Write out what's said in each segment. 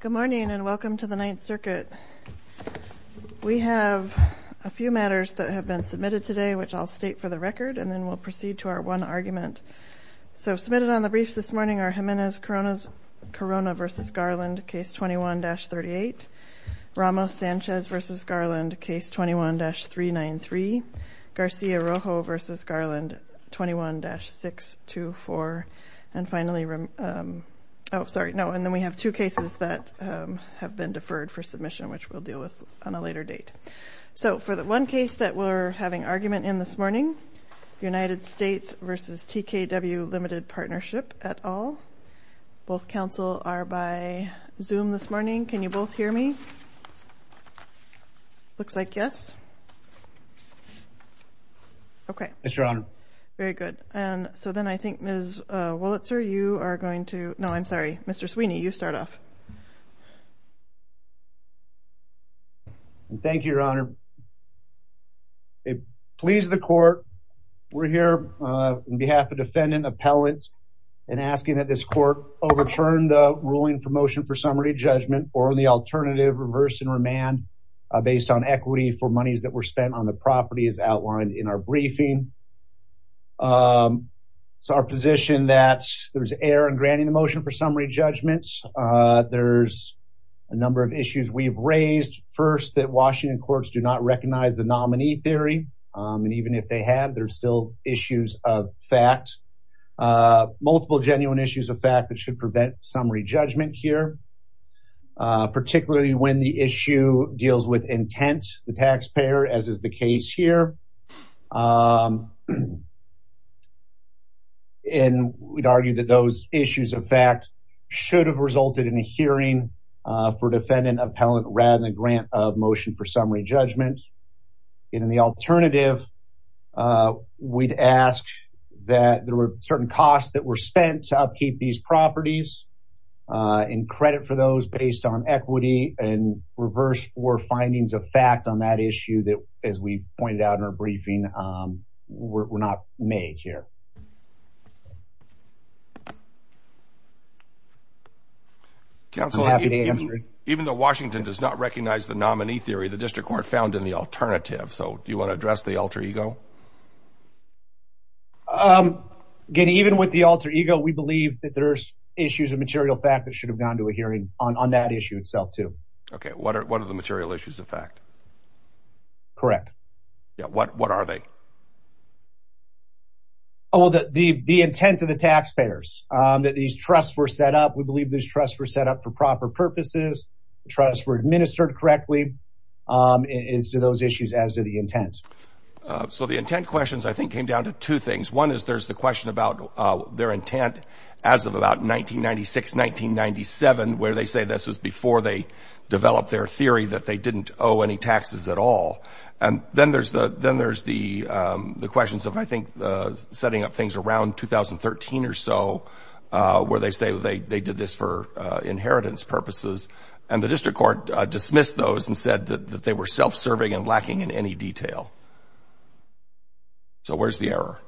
Good morning and welcome to the Ninth Circuit. We have a few matters that have been submitted today which I'll state for the record and then we'll proceed to our one argument. So submitted on the briefs this morning are Jimenez Corona v. Garland, Case 21-38, Ramos-Sanchez v. Garland, Case 21-393, Garcia-Rojo v. Garland, Case 21-624, and then we have two cases that have been deferred for submission which we'll deal with on a later date. So for the one case that we're having argument in this morning, United States v. TKW Limited Partnership et al. Looks like yes. Okay. Yes, Your Honor. Very good. And so then I think Ms. Wolitzer, you are going to, no, I'm sorry, Mr. Sweeney, you start off. Thank you, Your Honor. It pleases the court. We're here on behalf of defendant appellate and asking that this court overturn the ruling for motion for summary judgment or the alternative reverse and remand based on equity for monies that were spent on the property as outlined in our briefing. So our position that there's error in granting the motion for summary judgments. There's a number of issues we've raised. First, that Washington courts do not recognize the nominee theory and even if they had, there's still issues of fact, multiple genuine issues of fact that should prevent summary judgment here, particularly when the issue deals with intent, the taxpayer, as is the case here. And we'd argue that those issues of fact should have resulted in a hearing for defendant appellate rather than grant of motion for summary judgment. And in the and credit for those based on equity and reverse for findings of fact on that issue that as we pointed out in our briefing, we're not made here. Counselor, even though Washington does not recognize the nominee theory, the district court found in the alternative. So issues of material fact that should have gone to a hearing on on that issue itself too. Okay. What are, what are the material issues of fact? Correct. Yeah. What, what are they? Oh, well, the, the, the intent of the taxpayers, um, that these trusts were set up, we believe this trust were set up for proper purposes. The trust were administered correctly, um, is to those issues as to the intent. Uh, so the intent questions I think came down to two things. One is there's the question about, uh, their intent as of about 1996, 1997, where they say this was before they developed their theory that they didn't owe any taxes at all. And then there's the, then there's the, um, the questions of, I think, uh, setting up things around 2013 or so, uh, where they say they, they did this for, uh, inheritance purposes and the district court dismissed those and said that they were self-serving and lacking in any detail. So where's the error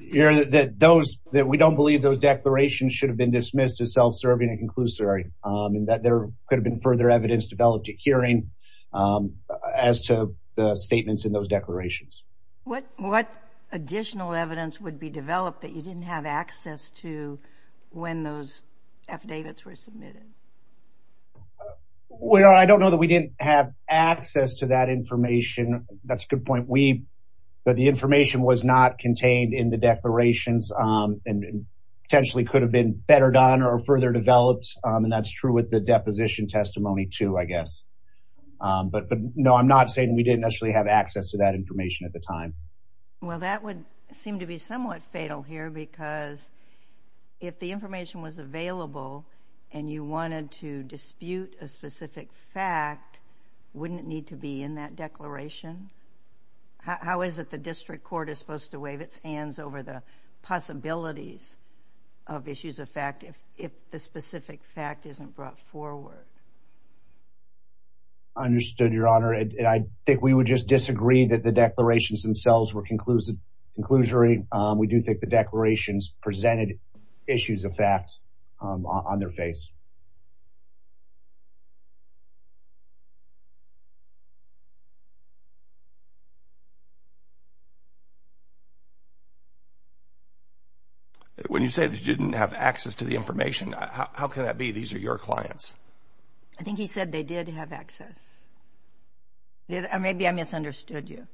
here that, that those, that we don't believe those declarations should have been dismissed as self-serving and conclusory, um, and that there could have been further evidence developed at hearing, um, as to the statements in those declarations. What, what additional evidence would be developed that you didn't have access to when those affidavits were submitted? Well, I don't know the way we didn't have access to that information. That's a good point. We, but the information was not contained in the declarations, um, and potentially could have been better done or further developed. Um, and that's true with the deposition testimony too, I guess. Um, but, but no, I'm not saying we didn't actually have access to that information at the time. Well, that would seem to be somewhat fatal here because if the information was fact, wouldn't it need to be in that declaration? How, how is it the district court is supposed to wave its hands over the possibilities of issues of fact if, if the specific fact isn't brought forward? I understood your honor. And I think we would just disagree that the declarations themselves were conclusive, conclusory. Um, we do think the declarations presented issues of fact, um, on their face. When you say they didn't have access to the information, how can that be? These are your clients. I think he said they did have access. Maybe I misunderstood you.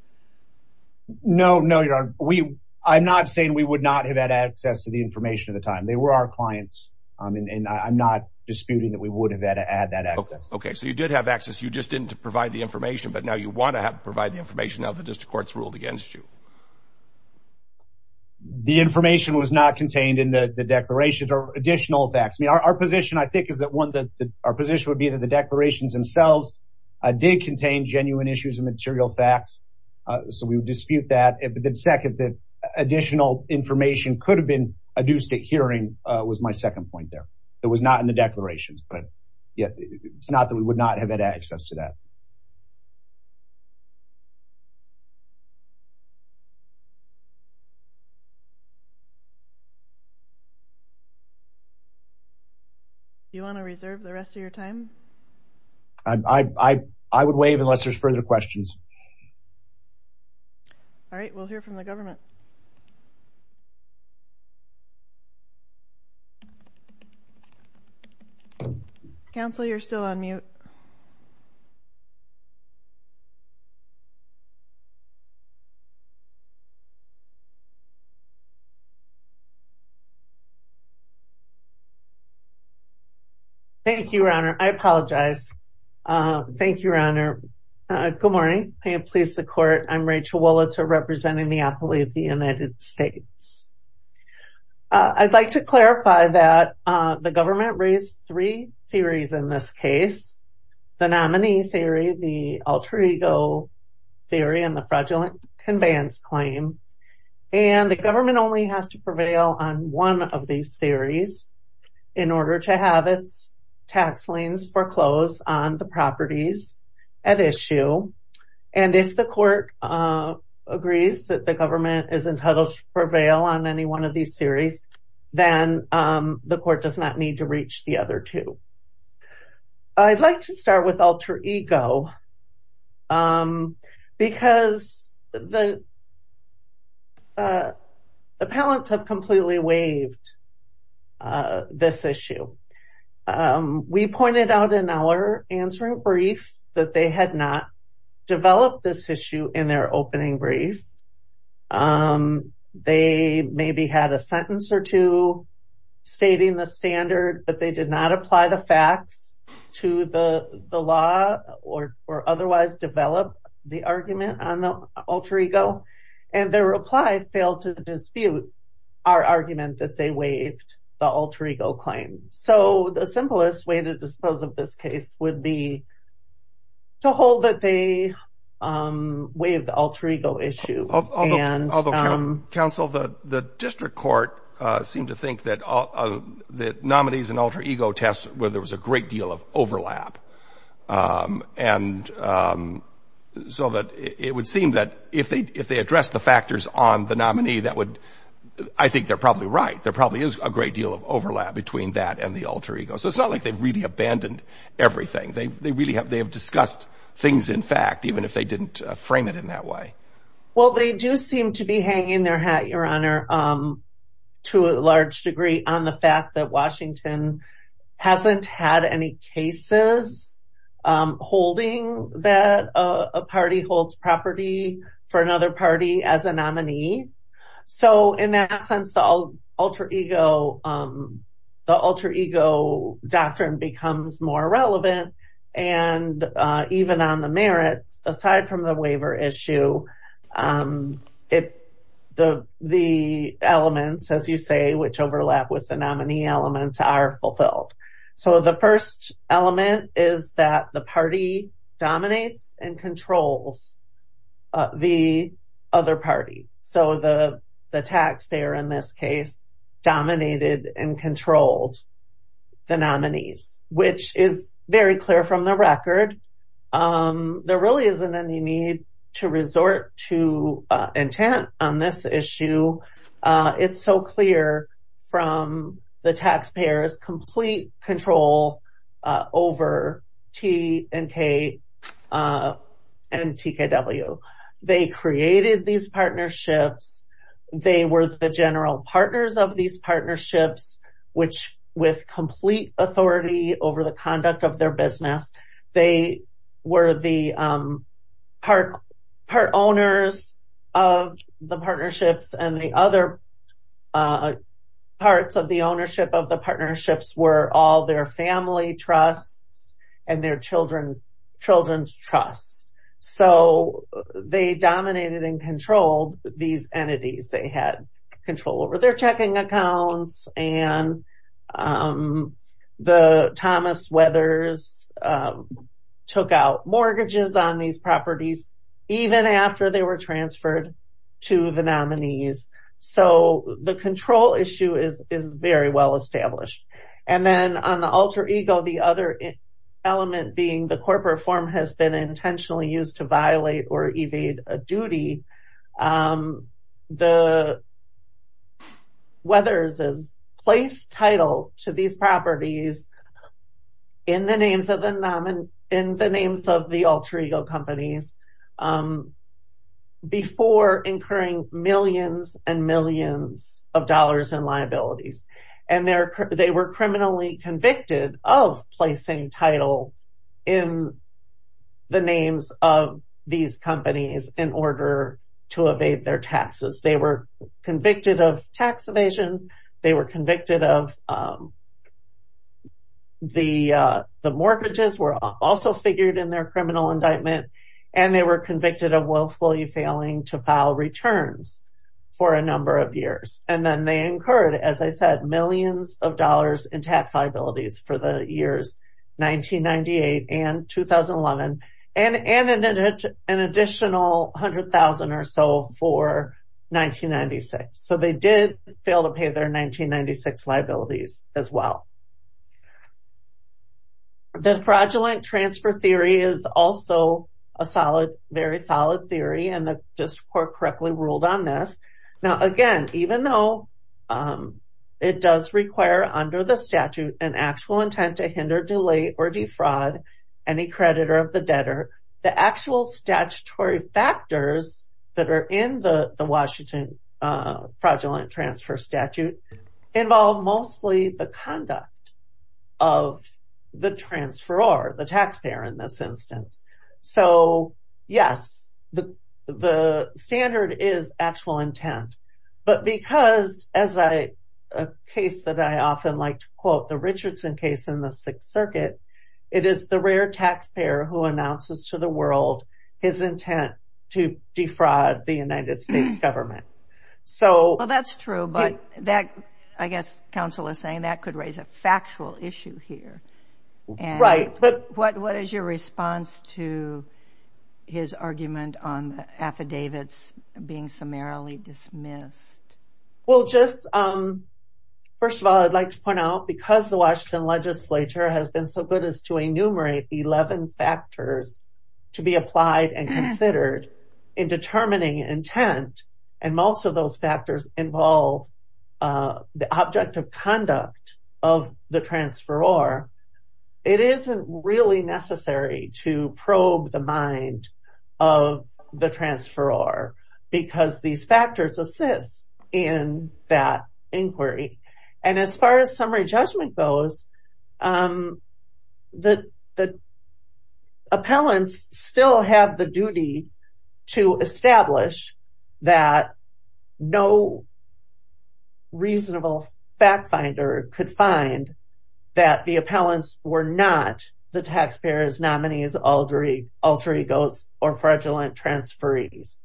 No, no, your honor. We, I'm not saying we would not have had access to the information at the time. They were our clients. Um, and, and I'm not disputing that we would have had to add that access. Okay. So you did have access. You just didn't provide the information, but now you want to have provide the information of the district courts ruled against you. The information was not contained in the declarations or additional facts. I mean, our, our position I think is that one that our position would be that the declarations themselves, uh, did contain genuine issues and material facts. Uh, so we would dispute that. But then second, that additional information could have been adduced at hearing, uh, was my second point there. It was not in the declarations, but yeah, it's not that we would not have had access to that. Do you want to reserve the rest of your time? I, I, I would waive unless there's further questions. All right. We'll hear from the government council. You're still on mute. Thank you, Your Honor. I apologize. Uh, thank you, Your Honor. Uh, good morning. May it please the court. I'm Rachel Wolitzer representing the appellee of the United States. Uh, I'd like to clarify that, uh, the government raised three theories in this case, the nominee theory, the alter ego theory, and the fraudulent conveyance claim. And the government only has to prevail on one of these theories in order to have its tax liens foreclosed on the properties at issue. And if the court, uh, agrees that the government is entitled to prevail on any one of these theories, then, um, the court does not need to reach the other two. I'd like to start with alter ego, um, because the, uh, appellants have completely waived, uh, this issue. Um, we pointed out in our answering brief that they had not developed this issue in their opening brief. Um, they maybe had a sentence or two stating the standard, but they did not apply the facts to the law or, or otherwise develop the argument on the alter ego. And their reply failed to dispute our argument that they waived the alter ego claim. So the simplest way to dispose of this case would be to hold that they, um, waived the alter ego issue. And, um, Counsel, the, the district court, uh, seemed to think that, uh, that nominees and alter ego tests where there was a great deal of overlap. Um, and, um, so that it would seem that if they, if they address the factors on the nominee, that would, I think they're probably right. There probably is a great deal of overlap between that and the alter ego. So it's not like they've really abandoned everything. They, they really have, they have discussed things in fact, even if they didn't frame it in that way. Well, they do seem to be hanging their hat, your Honor. Um, to a large degree on the fact that Washington hasn't had any cases, um, holding that, uh, a party holds property for In that sense, the alter ego, um, the alter ego doctrine becomes more relevant. And, uh, even on the merits, aside from the waiver issue, um, it, the, the elements, as you say, which overlap with the nominee elements are fulfilled. So the first element is that the taxpayer in this case dominated and controlled the nominees, which is very clear from the record. Um, there really isn't any need to resort to intent on this issue. Uh, it's so clear from the taxpayers complete control, uh, over T and K, uh, and TKW. They created these partnerships. They were the general partners of these partnerships, which with complete authority over the conduct of their business, they were the, um, part, part owners of the partnerships and the other, uh, parts of the ownership of the partnerships were all their family trusts and their children's trusts. So they dominated and controlled these entities. They had control over their checking accounts and, um, the Thomas Weathers, um, took out mortgages on these properties, even after they were transferred to the nominees. So the control issue is, is very well established. And then on the alter ego, the other element being the corporate form has been intentionally used to violate or evade a duty. Um, the Weathers has placed title to these properties in the names of the, in the names of the alter ego companies, um, before incurring millions and millions of dollars in liabilities. And they're, they were criminally convicted of placing title in the names of these companies in order to evade their taxes. They were convicted of tax evasion. They were convicted of, um, the, uh, the mortgages were also figured in their criminal indictment and they were convicted of willfully failing to file returns for a number of years. And then they incurred, as I said, millions of dollars in tax liabilities for the years 1998 and 2011 and, and an additional 100,000 or so for 1996. So they did fail to pay their 1996 liabilities as well. The fraudulent transfer theory is also a solid, very solid theory and the district court correctly ruled on this. Now again, even though, um, it does require under the statute an actual intent to hinder, delay or defraud any creditor of the debtor, the actual statutory factors that are in the, the Washington, uh, fraudulent transfer statute involve mostly the conduct of the transferor, the taxpayer in this instance. So yes, the, the standard is actual intent, but because as I, a case that I often like to quote, the Richardson case in the sixth circuit, it is the rare taxpayer who announces to the world his intent to defraud the United States government. So... Well, that's true, but that, I guess counsel is saying that could raise a factual issue here. Right, but... What, what is your response to his argument on the affidavits being summarily dismissed? Well, just, um, first of all, I'd like to point out because the Washington legislature has been so good as to enumerate 11 factors to be applied and considered in determining intent, and most of those factors involve, uh, the object of conduct of the transferor, it isn't really necessary to probe the mind of the transferor because these factors assist in that inquiry. And as far as summary judgment goes, um, the, the appellants still have the duty to establish that no reasonable fact finder could find that the appellants were not the taxpayer's nominees, alter egos, or fraudulent transferees.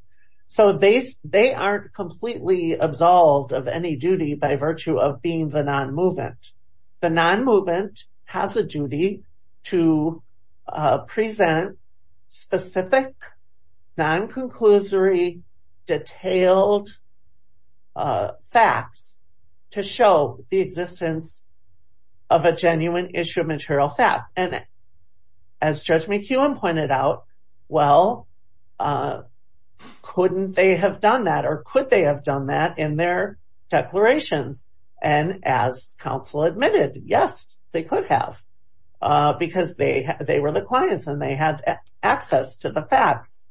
So they, they aren't completely absolved of any duty by virtue of being the non-movement. The non-movement has a duty to, uh, present specific non-conclusory detailed, uh, facts to show the existence of a genuine issue of material fact. And as Judge McEwen pointed out, well, uh, couldn't they have done that or could they have done that in their declarations? And as counsel admitted, yes, they could have, uh, because they, they were the clients and they had access to the facts,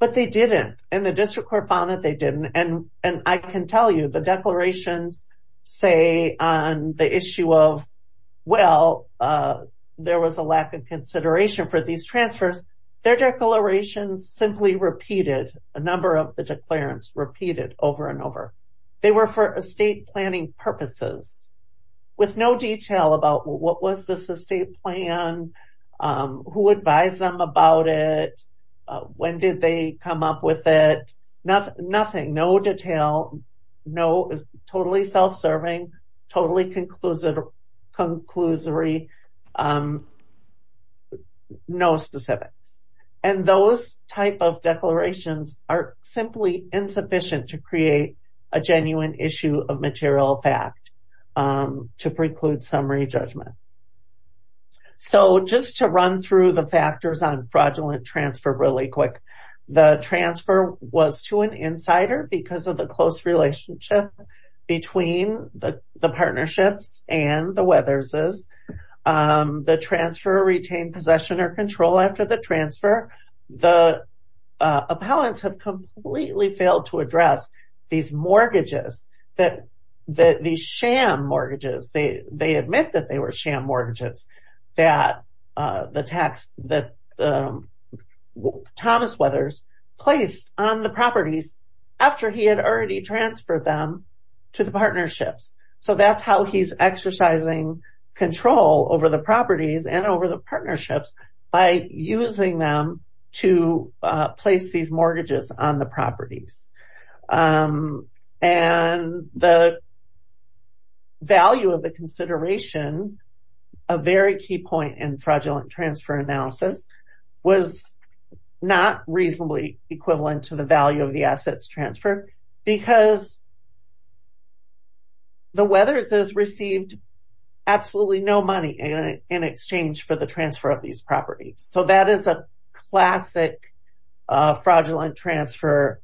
but they didn't. And the district court found that they didn't. And, and I can tell you the declarations say on the issue of, well, uh, there was a lack of consideration for these transfers. Their declarations simply repeated a number of the declarants repeated over and over. They were for estate planning purposes with no detail about what was this estate plan? Um, who advised them about it? Uh, when did they come up with it? Nothing, nothing, no detail, no, totally self-serving, totally conclusive, conclusory, um, no specifics. And those type of declarations are simply insufficient to create a genuine issue of material fact, um, to the factors on fraudulent transfer really quick. The transfer was to an insider because of the close relationship between the, the partnerships and the Weathers'. Um, the transfer retained possession or control after the transfer. The, uh, appellants have completely failed to address these mortgages that, that these sham mortgages, they, they admit that they were sham mortgages that, uh, the tax that, um, Thomas Weathers placed on the properties after he had already transferred them to the partnerships. So that's how he's exercising control over the properties and over the partnerships by using them to, uh, place these mortgages on the properties. Um, and the value of the consideration, a very key point in fraudulent transfer analysis was not reasonably equivalent to the value of the assets transferred because the Weathers' has received absolutely no money in, in exchange for the transfer of these properties. So that is a transfer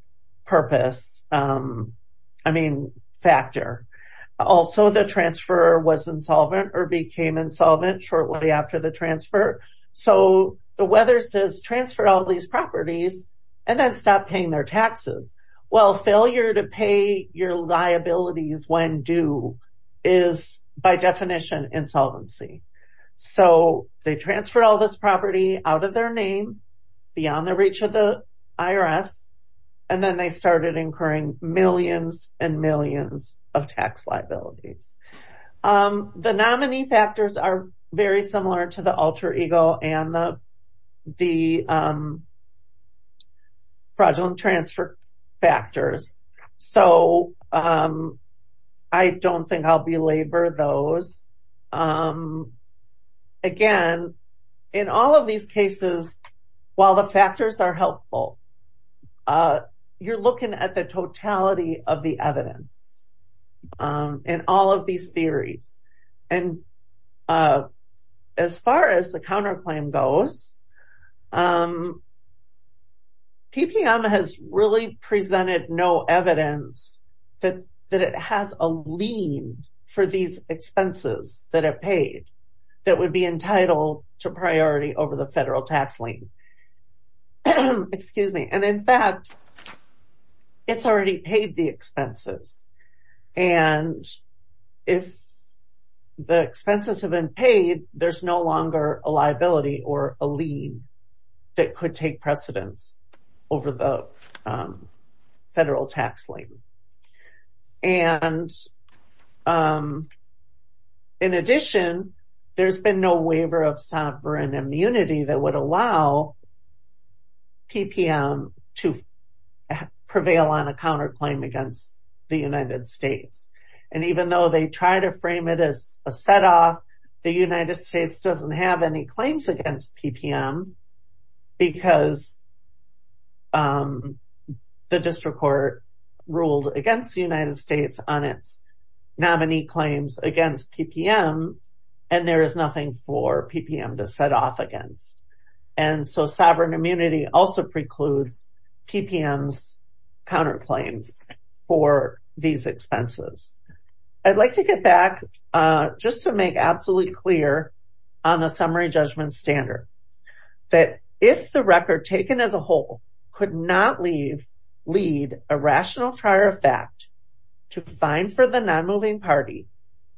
was insolvent or became insolvent shortly after the transfer. So the Weathers' transferred all of these properties and then stopped paying their taxes. Well, failure to pay your liabilities when due is by definition insolvency. So they transferred all this property out of their name beyond the reach of the IRS. And then they started incurring millions and millions of tax liabilities. Um, the nominee factors are very similar to the helpful. Uh, you're looking at the totality of the evidence, um, and all of these theories. And, uh, as far as the counterclaim goes, um, PPM has really tax lien. Excuse me. And in fact, it's already paid the expenses. And if the expenses have been paid, there's no longer a liability or a lien that could take precedence over the federal tax lien. And, um, in addition, there's been no waiver of sovereign immunity that would allow PPM to prevail on a counterclaim against the United States. And even though they try to frame it as a set off, the United States doesn't have any claims against PPM because, um, the district court ruled against the United States on its nominee claims against PPM. And there is nothing for PPM to set off against. And so sovereign immunity also precludes PPM's counterclaims for these expenses. I'd like to get back, uh, just to make absolutely clear on the record taken as a whole could not leave lead a rational trier of fact to find for the non-moving party.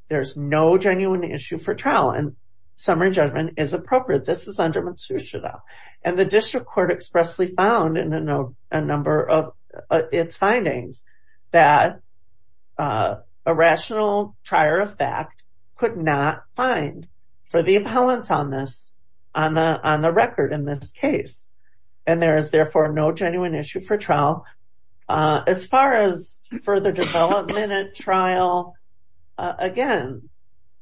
There's no genuine issue for trial and summary judgment is appropriate. This is under Matsushita. And the district court expressly found in a number of its findings that, uh,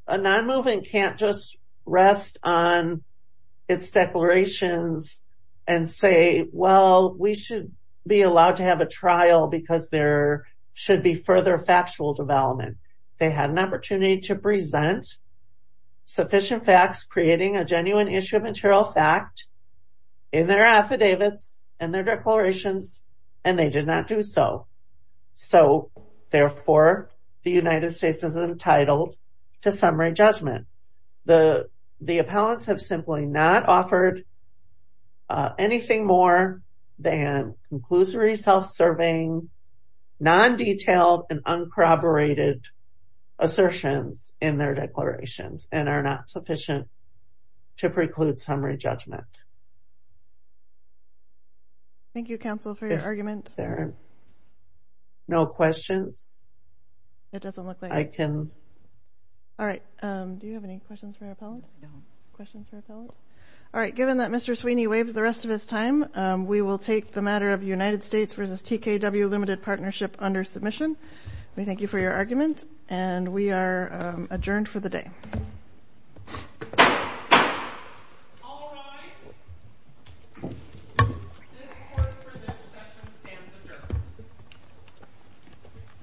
a non-moving can't just rest on its declarations and say, well, we should be allowed to have a trial because there should be further factual development. They had an opportunity to present sufficient facts, creating a genuine issue of material fact. In their affidavits and their declarations, and they did not do so. So therefore the United States is entitled to summary judgment. The, the appellants have simply not offered anything more than conclusory self-serving non-detailed and uncorroborated assertions in their declarations and are not sufficient to preclude summary judgment. Thank you counsel for your argument. No questions. It doesn't look like I can. All right. Um, do you have any questions for your appellant? Questions for appellant? All right. Given that Mr. Sweeney waves the rest of his time, um, we will take the matter of United States versus TKW limited partnership under submission. We thank you for your argument and we are adjourned for the day. All right. This court for this session stands adjourned.